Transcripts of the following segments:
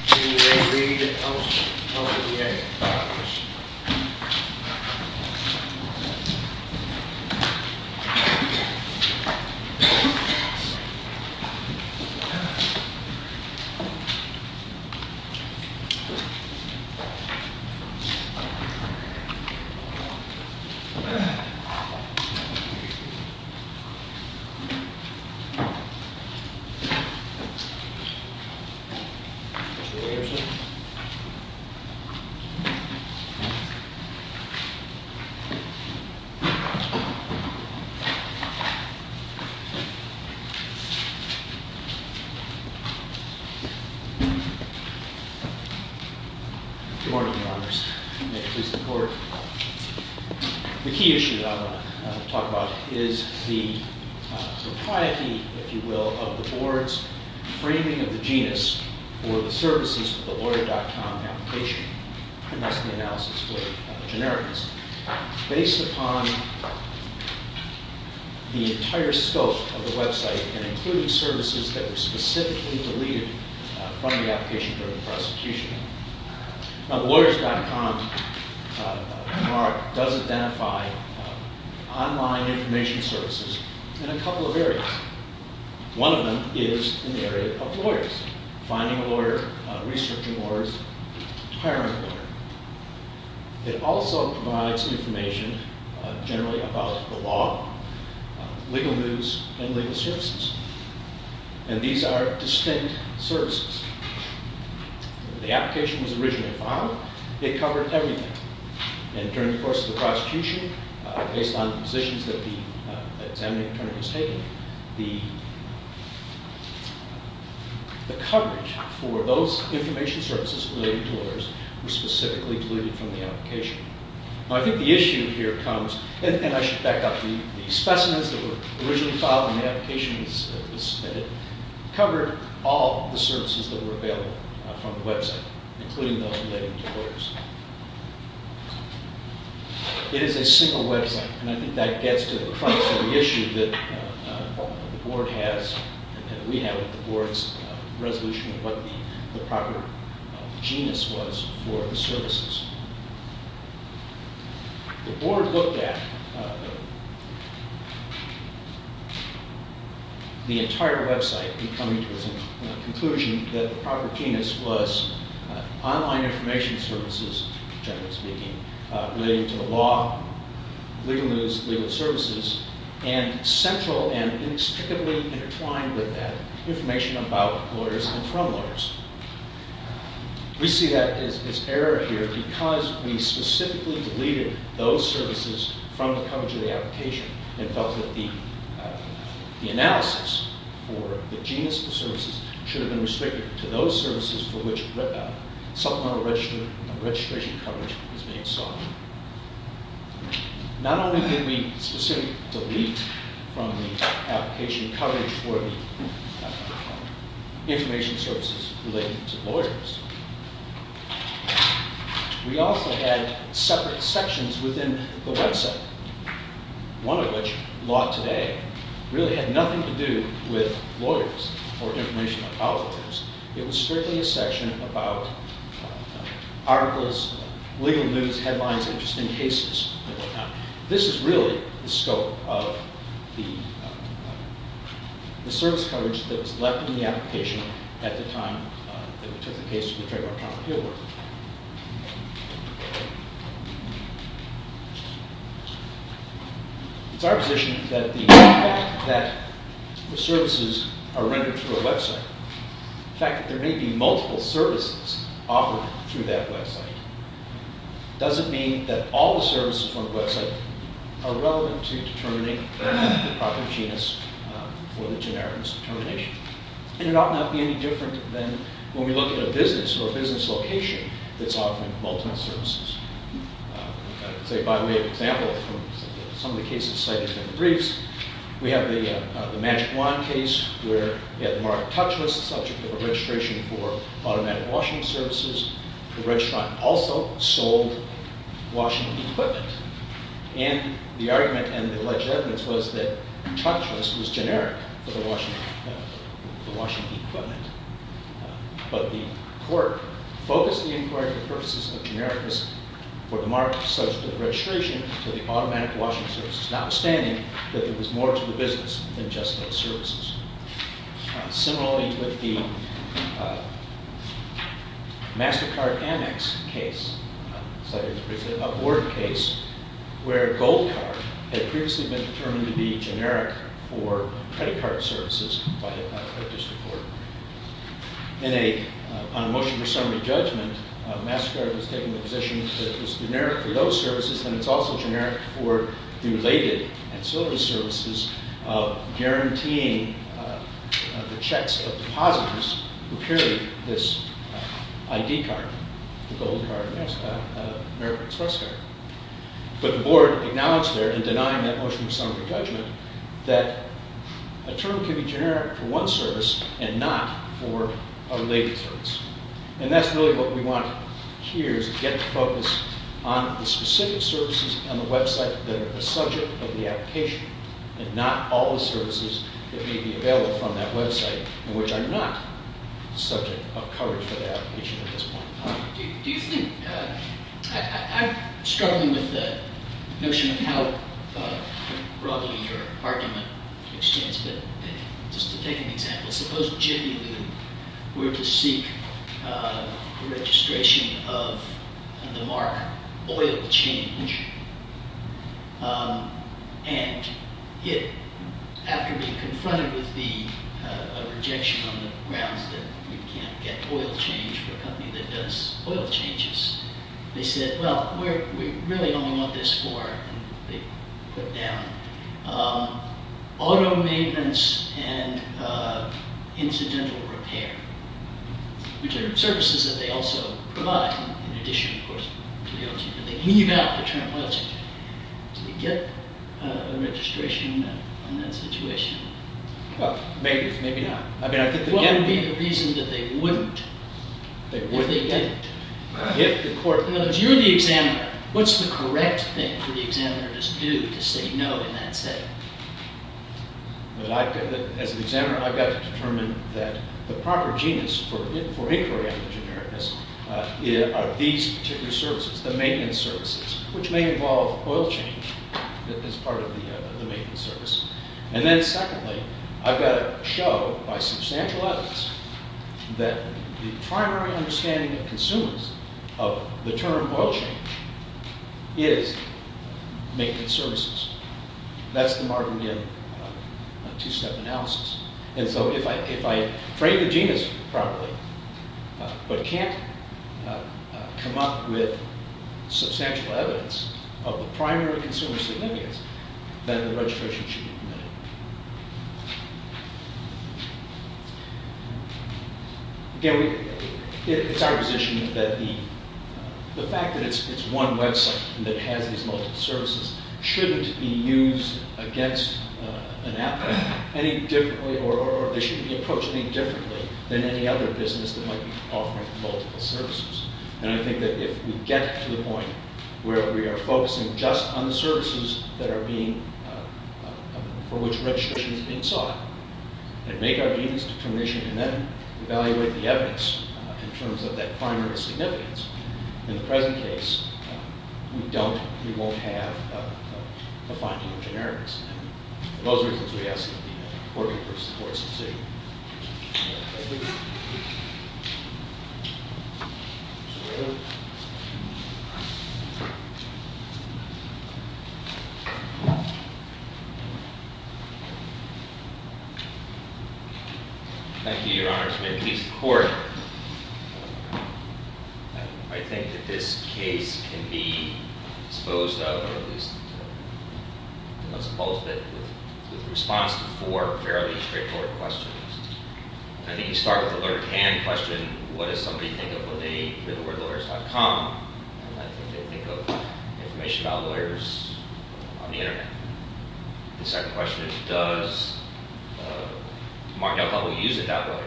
In Re Reed Elsevier. The key issue that I want to talk about is the propriety, if you will, of the board's framing of the genus for the services of the Lawyer.com application. That's the analysis for generics. Based upon the entire scope of the website, and including services that were specifically deleted from the application during the prosecution. Now, the Lawyers.com mark does identify online information services in a couple of areas. One of them is in the area of lawyers. Finding a lawyer, researching lawyers, hiring a lawyer. It also provides information generally about the law, legal news, and legal services. And these are distinct services. The application was originally filed. It covered everything. And during the course of the prosecution, based on positions that the examining attorney has taken, the coverage for those information services related to lawyers was specifically deleted from the application. I think the issue here comes, and I should back up, the specimens that were originally filed in the application that was submitted covered all the services that were available from the website, including those related to lawyers. It is a single website, and I think that gets to the crux of the issue that the board has and that we have with the board's resolution of what the proper genus was for the services. The board looked at the entire website in coming to the conclusion that the proper genus was online information services, generally speaking, relating to the law, legal news, legal services, and central and inextricably intertwined with that, information about lawyers and from lawyers. We see that as error here because we specifically deleted those services from the coverage of the application and felt that the analysis for the genus of the services should have been restricted to those services for which supplemental registration coverage was being sought. Not only did we specifically delete from the application coverage for the information services relating to lawyers, we also had separate sections within the website, one of which, Law Today, really had nothing to do with lawyers or information about lawyers. It was strictly a section about articles, legal news, headlines, interesting cases, and what not. This is really the scope of the service coverage that was left in the application at the time that we took the case to the trademark trial in Hillborough. It's our position that the services are rendered through a website. The fact that there may be multiple services offered through that website doesn't mean that all the services on the website are relevant to determining the proper genus for the generic determination. And it ought not be any different than when we look at a business or a business location that's offering multiple services. By way of example, from some of the cases cited in the briefs, we have the Magic Wand case where we had the mark Touchless, the subject of a registration for automatic washing services. The registrar also sold washing equipment. And the argument and the alleged evidence was that Touchless was generic for the washing equipment. But the court focused the inquiry for the purposes of genericness for the mark subject of registration for the automatic washing services, notwithstanding that there was more to the business than just those services. Similarly, with the MasterCard Amex case, cited in the briefs, a board case where Gold Card had previously been determined to be generic for credit card services by the district court. On a motion for summary judgment, MasterCard was taking the position that it was generic for those services and it's also generic for the related and service services guaranteeing the checks of depositors who carry this ID card, the Gold Card, American Express card. But the board acknowledged there in denying that motion for summary judgment that a term can be generic for one service and not for a related service. And that's really what we want here is to get the focus on the specific services on that website which are not subject of coverage for the application at this point. Do you think, I'm struggling with the notion of how broadly your argument extends, but just to take an example, suppose Jiffy Lube were to seek registration of the mark oil change and after being confronted with the rejection on the grounds that we can't get oil change for a company that does oil changes, they said, well, we really only want this for, they put down, auto maintenance and incidental repair, which are services that they also provide in addition, of course, to the oil change, but they leave out the term oil change. Do they get a registration on that situation? Well, maybe, maybe not. What would be the reason that they wouldn't? They wouldn't get it. In other words, you're the examiner. What's the correct thing for the examiner to do to say no in that setting? As an examiner, I've got to determine that the proper genus for inquiry on the genericness are these particular services, the maintenance services, which may involve oil change as part of the maintenance service, and then secondly, I've got to show by substantial evidence that the primary understanding of consumers of the term oil change is maintenance services. That's the Martinian two-step analysis. And so if I frame the genus properly, but can't come up with substantial evidence of the primary consumer significance, then the registration should be omitted. Again, it's our position that the fact that it's one website that has these multiple services shouldn't be used against an applicant any differently, or they shouldn't be approached any differently than any other business that might be offering multiple services. And I think that if we get to the point where we are focusing just on the services that are being, for which registration is being sought, and make our genus determination, and then evaluate the evidence in terms of that primary significance, in the present case, we don't, we won't have a finding of generics. And for those reasons, we ask that the court be the first to support this decision. Thank you, Your Honor. May it please the court. Your Honor, I think that this case can be disposed of, or at least disposed of with response to four fairly straightforward questions. I think you start with the learned hand question, what does somebody think of when they hear the word lawyers.com? And I think they think of information about lawyers on the internet. The second question is, does Mark DelCarlo use it that way?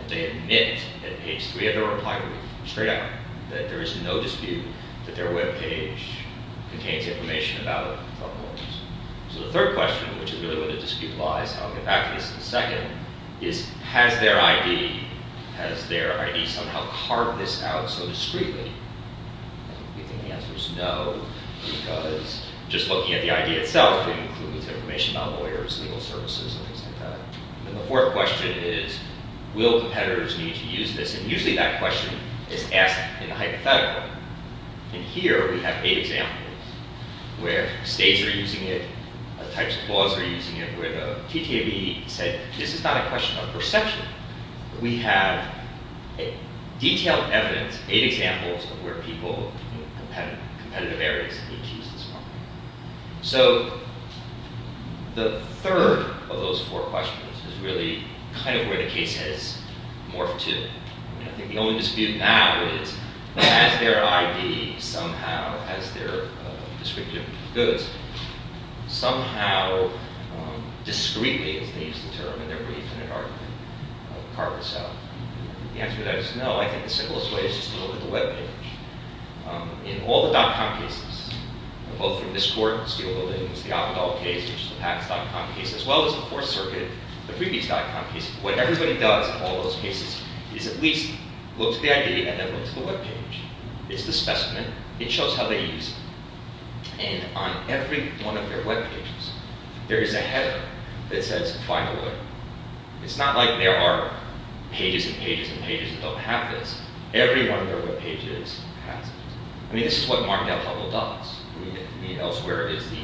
And they admit at page three of their reply, straight out, that there is no dispute that their web page contains information about lawyers. So the third question, which is really where the dispute lies, I'll get back to this in a second, is has their ID, has their ID somehow carved this out so discreetly? I think the answer is no, because just looking at the ID itself, it includes information about lawyers, legal services, and things like that. And the fourth question is, will competitors need to use this? And usually that question is asked in a hypothetical. And here we have eight examples where states are using it, types of laws are using it, where the TTAB said this is not a question of perception. We have detailed evidence, eight examples of where people in competitive areas need to use this. So the third of those four questions is really kind of where the case has morphed to. I think the only dispute now is, has their ID somehow, has their distributive goods somehow discreetly, as they use the term in their brief in an argument, carved this out? The answer to that is no, I think the simplest way is just to look at the web page. In all the dot-com cases, both from this court in the Steele building, which is the Avedal case, which is the PACS dot-com case, as well as the Fourth Circuit, the previous dot-com case, what everybody does in all those cases is at least look to the ID and then look to the web page. It's the specimen. It shows how they use it. And on every one of their web pages, there is a header that says, find a lawyer. It's not like there are pages and pages and pages that don't have this. Every one of their web pages has this. I mean, this is what Martindale-Hubbell does. I mean, if elsewhere is the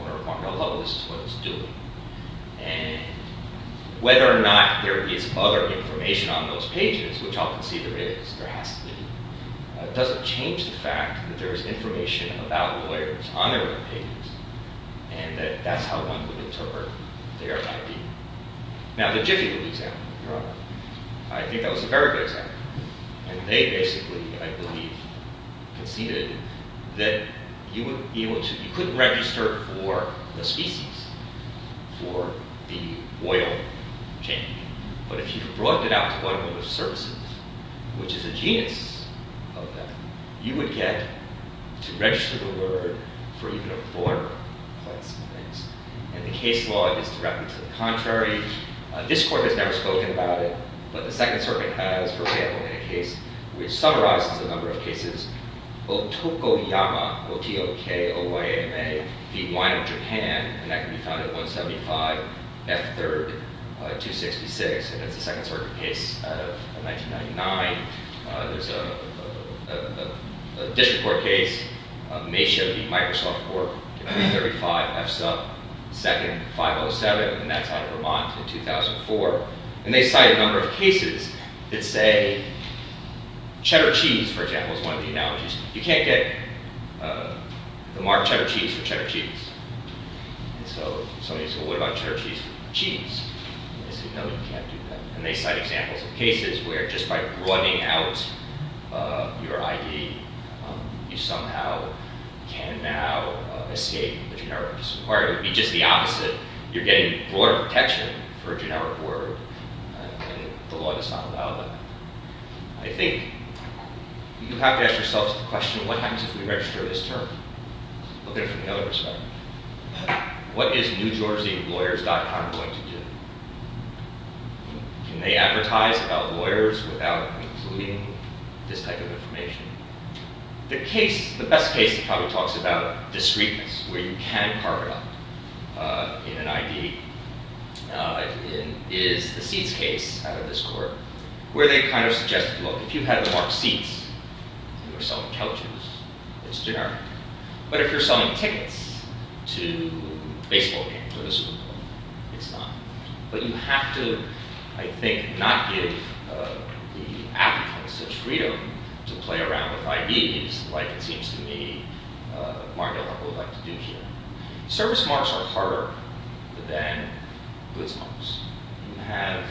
owner of Martindale-Hubbell, this is what it's doing. And whether or not there is other information on those pages, which I'll concede there is, there has to be, doesn't change the fact that there is information about lawyers on their web pages, and that that's how one would interpret their ID. Now, the Jiffy would be an example. I think that was a very good example. And they basically, I believe, conceded that you couldn't register for the species, for the oil chain. But if you brought it out to automotive services, which is a genius of them, you would get to register the word for even a foreign place. And the case law is directly to the contrary. This court has never spoken about it. But the Second Circuit has, for example, in a case which summarizes a number of cases, Otokoyama, O-T-O-K-O-Y-A-M-A v. Wino, Japan. And that can be found at 175 F. 3rd, 266. And that's the Second Circuit case out of 1999. There's a district court case, Mesa v. Microsoft Corp., 1935 F. 2nd, 507. And that's out of Vermont in 2004. And they cite a number of cases that say cheddar cheese, for example, is one of the analogies. You can't get the mark cheddar cheese for cheddar cheese. And so somebody said, well, what about cheddar cheese for cheese? And they said, no, you can't do that. And they cite examples of cases where just by running out your ID, you somehow can now Or it would be just the opposite. You're getting broader protection for a generic word. And the law does not allow that. I think you have to ask yourself the question, what happens if we register this term? Looking from the other perspective. What is NewGeorgiaLawyers.com going to do? Can they advertise about lawyers without including this type of information? The best case that probably talks about discreteness, where you can carve it up in an ID, is the seeds case out of this court, where they kind of suggest, look, if you have the mark seeds, you're selling couches. It's generic. But if you're selling tickets to baseball games or the Super Bowl, it's not. But you have to, I think, not give the applicants such freedom to play around with IDs, like it seems to me Mario would like to do here. Service marks are harder than goods marks. When you have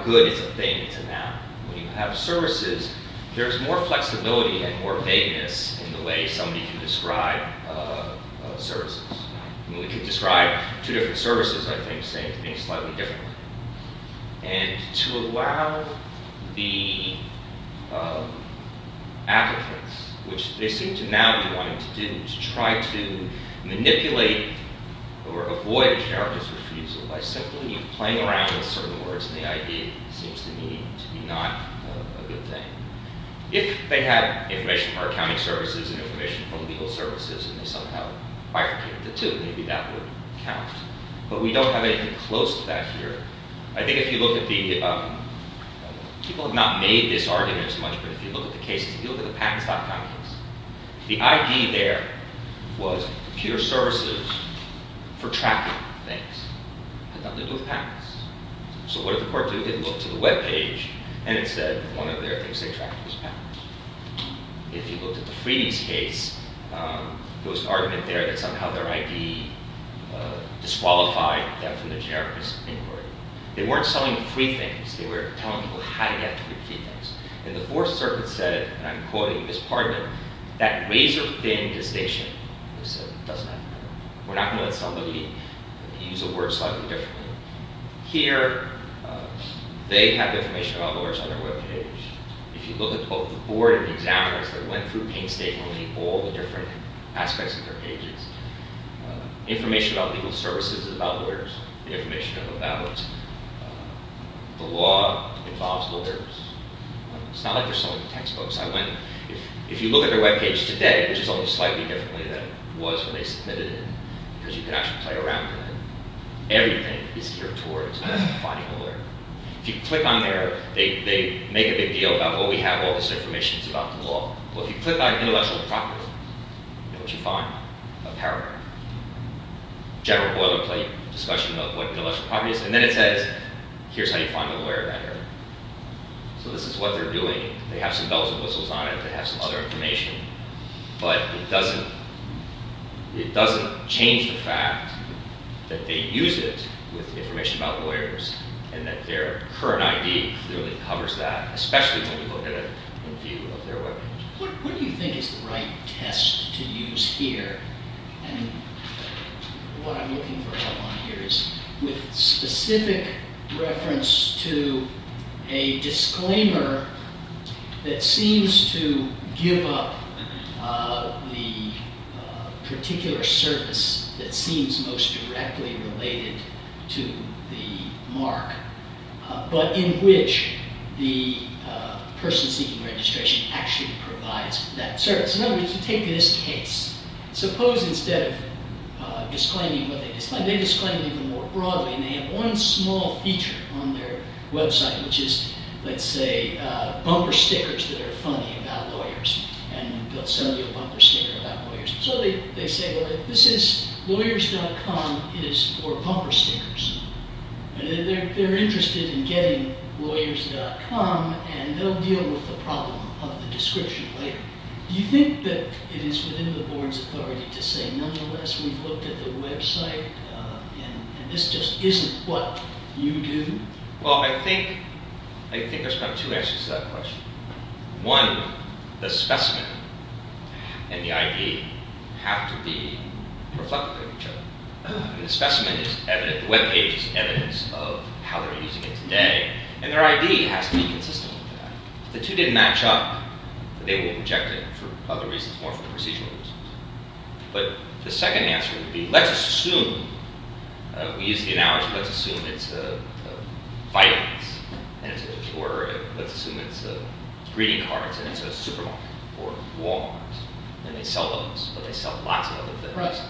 a good, it's a thing. It's a noun. When you have services, there's more flexibility and more vagueness in the way somebody can describe services. We could describe two different services, I think, saying things slightly differently. And to allow the applicants, which they seem to now be wanting to do, to try to manipulate or avoid charitable refusal by simply playing around with certain words in the ID, seems to me to be not a good thing. If they have information from our accounting services and information from legal services and they somehow bifurcated the two, maybe that would count. But we don't have anything close to that here. I think if you look at the, people have not made this argument as much, but if you look at the cases, if you look at the patents.com case, the ID there was computer services for tracking things. It had nothing to do with patents. So what did the court do? It looked to the webpage and it said one of their things they tracked was patents. If you looked at the Freedies case, there was an argument there that somehow their ID disqualified them from the charitable inquiry. They weren't selling free things. They were telling people how to get free things. And the Fourth Circuit said, and I'm quoting Ms. Pardman, that razor-thin distinction, they said, doesn't have to matter. We're not going to let somebody use a word slightly differently. Here, they have information about lawyers on their webpage. If you look at both the board and the examiners that went through painstakingly all the different aspects of their pages, information about legal services is about lawyers, the information about the law involves lawyers. It's not like there's so many textbooks. If you look at their webpage today, which is only slightly differently than it was when they submitted it, because you can actually play around with it, everything is geared towards finding a lawyer. If you click on there, they make a big deal about, well, we have all this information about the law. Well, if you click on intellectual property, you know what you find? A paragraph. General boilerplate discussion about what intellectual property is. And then it says, here's how you find a lawyer. So this is what they're doing. They have some bells and whistles on it. They have some other information. But it doesn't change the fact that they use it with information about lawyers and that their current ID clearly covers that, especially when you look at it in view of their webpage. What do you think is the right test to use here? And what I'm looking for help on here is with specific reference to a disclaimer that seems to give up the particular service that seems most directly related to the mark, but in which the person seeking registration actually provides that service. Take this case. Suppose instead of disclaiming what they disclaim, they disclaim it even more broadly. And they have one small feature on their website, which is, let's say, bumper stickers that are funny about lawyers. And they'll send you a bumper sticker about lawyers. So they say, well, this is lawyers.com. It is for bumper stickers. They're interested in getting lawyers.com, and they'll deal with the problem of the description later. Do you think that it is within the board's authority to say, nonetheless, we've looked at the website, and this just isn't what you do? Well, I think there's kind of two answers to that question. One, the specimen and the ID have to be reflective of each other. The specimen is evident. The webpage is evidence of how they're using it today. And their ID has to be consistent with that. If the two didn't match up, they will reject it for other reasons, more for procedural reasons. But the second answer would be, let's assume we use the analogy, let's assume it's a Vitamix, or let's assume it's a greeting card, and it's a supermarket or Walmart, and they sell those. But they sell lots of other things.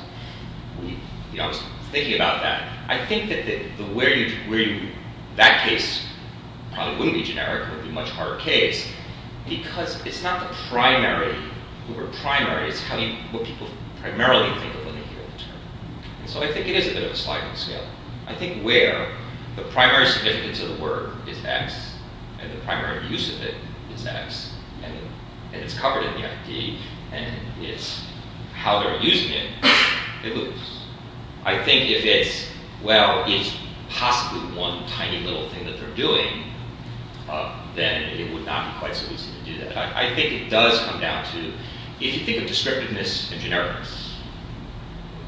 I was thinking about that. I think that that case probably wouldn't be generic. It would be a much harder case, because it's not the primary. The word primary is what people primarily think of when they hear the term. So I think it is a bit of a sliding scale. I think where the primary significance of the word is X, and the primary use of it is X, and it's covered in the ID, and it's how they're using it, it moves. I think if it's, well, it's possibly one tiny little thing that they're doing, then it would not be quite so easy to do that. I think it does come down to, if you think of descriptiveness and generics,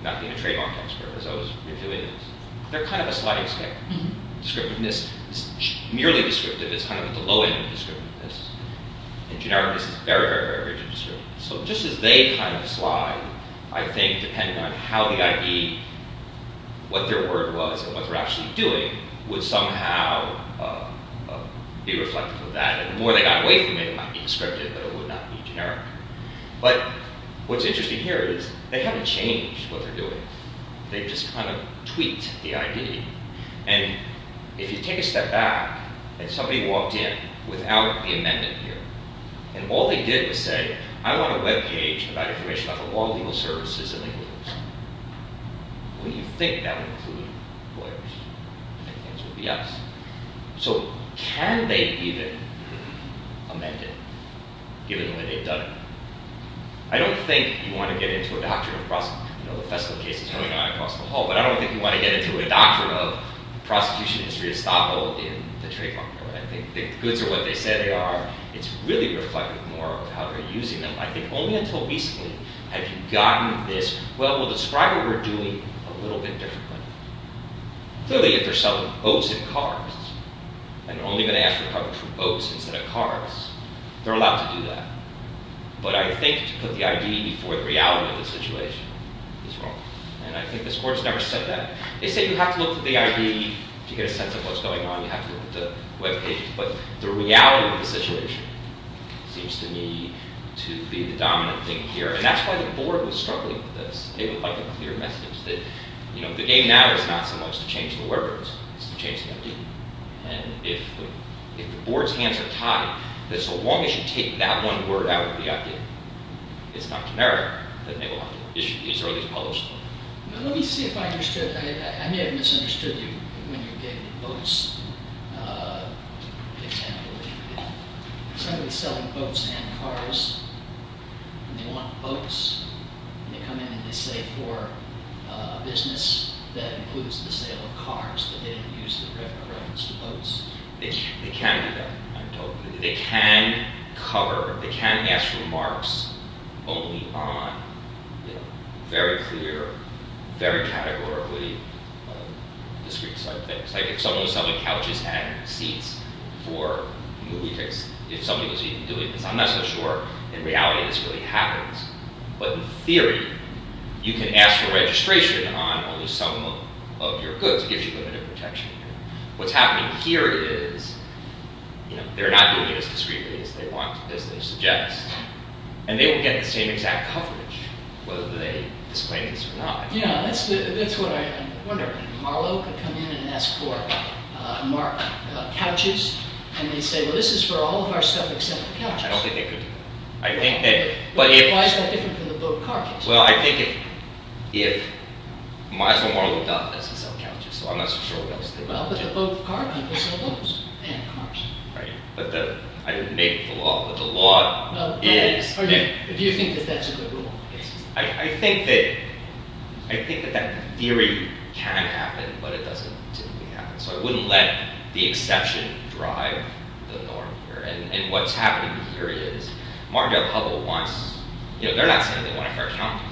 not being a trademark expert, as I was revealing, they're kind of a sliding scale. Descriptiveness is merely descriptive. It's kind of at the low end of descriptiveness. And generics is very, very, very descriptive. So just as they kind of slide, I think depending on how the ID, what their word was, and what they're actually doing would somehow be reflective of that. And the more they got away from it, it might be descriptive, but it would not be generic. But what's interesting here is they haven't changed what they're doing. They've just kind of tweaked the ID. And if you take a step back, and somebody walked in without the amendment here, and all they did was say, I want a web page about information about the law and legal services, and they would lose. Well, you'd think that would include lawyers. I think things would be us. So can they even amend it, given the way they've done it? I don't think you want to get into a doctrine of prosecution. You know, the Fesco case is coming out across the hall. But I don't think you want to get into a doctrine of prosecution history estoppel in the trademark law. I think the goods are what they say they are. It's really reflective more of how they're using them. I think only until recently have you gotten this, well, we'll describe what we're doing a little bit differently. Clearly, if they're selling boats and cars, and only going to ask for coverage from boats instead of cars, they're allowed to do that. But I think to put the I.D. before the reality of the situation is wrong. And I think this Court has never said that. They say you have to look at the I.D. to get a sense of what's going on. You have to look at the web page. But the reality of the situation seems to me to be the dominant thing here. And that's why the Board was struggling with this. They would like a clear message that, you know, the game now is not so much to change the word rules. It's to change the I.D. And if the Board's hands are tied, that so long as you take that one word out of the I.D., it's not to merit that they will have to issue these or at least publish them. Let me see if I understood. I may have misunderstood you when you gave the boats example. If somebody's selling boats and cars, and they want boats, and they come in and they say for a business that includes the sale of cars, but they didn't use the reference to boats. They can do that. They can cover. They can ask remarks only on very clear, very categorically discreet-type things. Like if someone was selling couches and seats for movie tickets, if somebody was even doing this. I'm not so sure in reality this really happens. But in theory, you can ask for registration on only some of your goods. It gives you limited protection. What's happening here is, you know, they're not doing it as discreetly as they want, as they suggest. And they will get the same exact coverage, whether they disclaim this or not. Yeah, that's what I'm wondering. Marlowe could come in and ask for couches, and they say, well, this is for all of our stuff except the couches. I don't think they could do that. I think that— Why is that different from the boat-car case? Well, I think if— Marlowe does sell couches, so I'm not so sure what else they're going to do. Well, but the boat-car people sell boats and cars. Right. But I didn't make the law, but the law is— Do you think that that's a good rule? I think that—I think that that theory can happen, but it doesn't typically happen. So I wouldn't let the exception drive the norm here. And what's happening here is, Margelle Hubbell wants—you know, they're not saying they want a fair couch.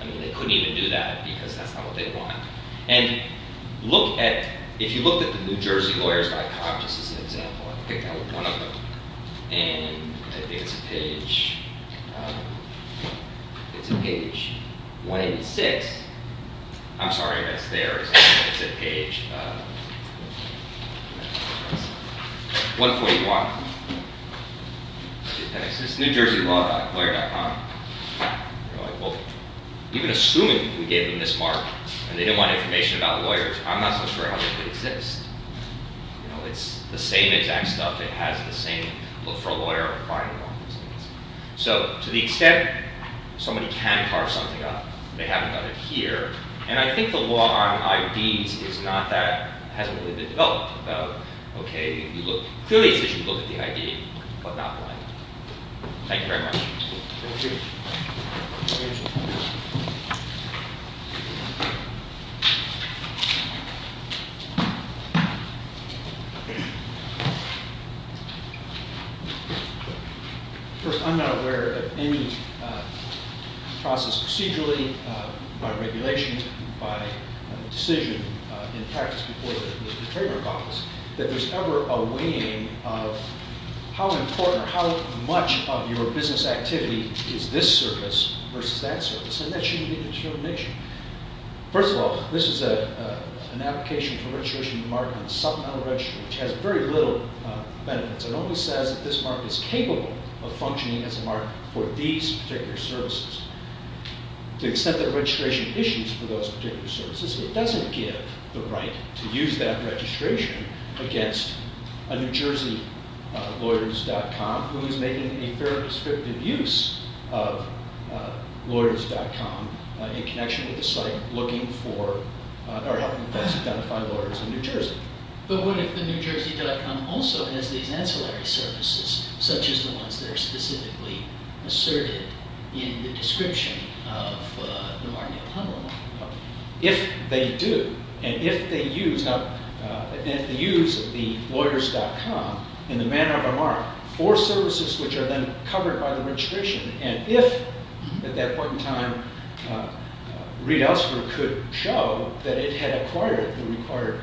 I mean, they couldn't even do that because that's not what they want. And look at—if you looked at the New Jersey lawyers by couch, this is an example. I'll pick out one of them, and I think it's page—it's page 186. I'm sorry, but it's there. It's at page 141. It's NewJerseyLaw.Lawyer.com. They're like, well, even assuming we gave them this mark and they didn't want information about lawyers, I'm not so sure how this could exist. You know, it's the same exact stuff. It has the same look for a lawyer. So to the extent somebody can carve something up, they haven't done it here. And I think the law on IDs is not that—hasn't really been developed about, okay, you look— clearly it says you look at the ID, but not the line. Thank you very much. Thank you. First, I'm not aware of any process procedurally, by regulation, by decision, in practice, before there's been a trademark office, that there's ever a weighing of how important or how much of your business activity is this service versus that service, and that shouldn't be the determination. First of all, this is an application for registration of a mark on supplemental registry, which has very little benefits. It only says that this mark is capable of functioning as a mark for these particular services. To the extent that registration issues for those particular services, it doesn't give the right to use that registration against a NewJerseyLawyers.com who is making a very descriptive use of Lawyers.com in connection with the site looking for— or helping to identify lawyers in New Jersey. But what if the NewJersey.com also has these ancillary services, such as the ones that are specifically asserted in the description of the Martinez-O'Connor mark? If they do, and if they use— in the manner of a mark, for services which are then covered by the registration, and if at that point in time, Reid Elsberg could show that it had acquired the required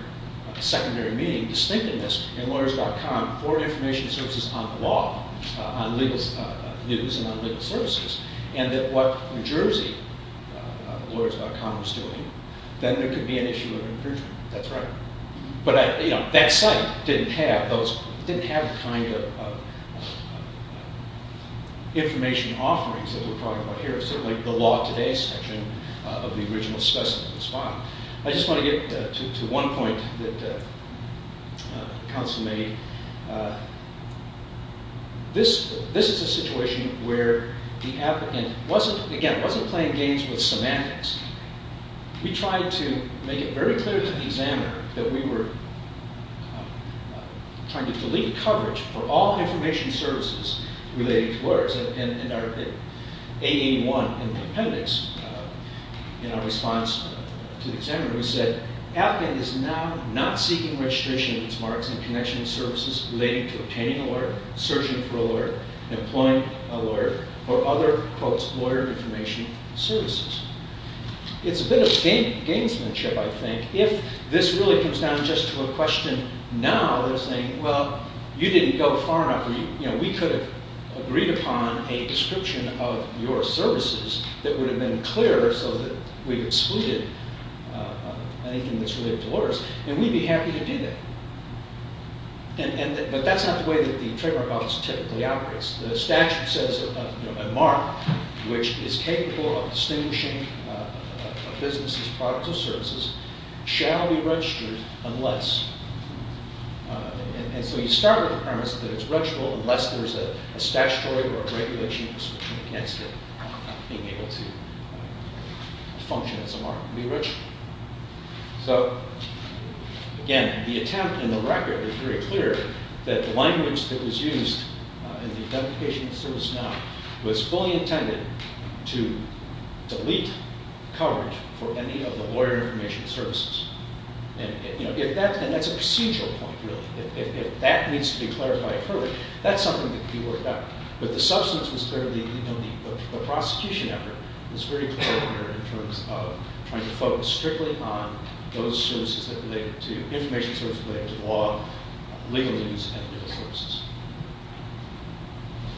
secondary meaning, distinctiveness in Lawyers.com for information services on the law, on legal news and on legal services, and that what New JerseyLawyers.com was doing, then there could be an issue of infringement. That's right. But, you know, that site didn't have those— didn't have the kind of information offerings that we're talking about here. Certainly the Law Today section of the original specimen was fine. I just want to get to one point that counsel made. This is a situation where the applicant wasn't— again, wasn't playing games with semantics. We tried to make it very clear to the examiner that we were trying to delete coverage for all information services relating to lawyers. And our— 881 in the appendix, in our response to the examiner, we said, applicant is now not seeking registration of its marks in connection services relating to obtaining a lawyer, searching for a lawyer, employing a lawyer, or other, quote, lawyer information services. It's a bit of gamesmanship, I think. If this really comes down just to a question now, they're saying, well, you didn't go far enough. We could have agreed upon a description of your services that would have been clear so that we excluded anything that's related to lawyers, and we'd be happy to do that. But that's not the way that the Trademark Office typically operates. The statute says a mark which is capable of distinguishing a business's products or services shall be registered unless— and so you start with the premise that it's registrable unless there's a statutory or a regulation against it being able to function as a mark and be registrable. So, again, the attempt in the record is very clear that the language that was used in the identification of the service now was fully intended to delete coverage for any of the lawyer information services. And that's a procedural point, really. If that needs to be clarified early, that's something that could be worked out. But the substance was clearly— the prosecution effort was very clear in terms of trying to focus strictly on those services that related to information services related to law, legal use, and legal services.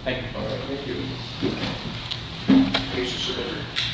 Thank you. Thank you.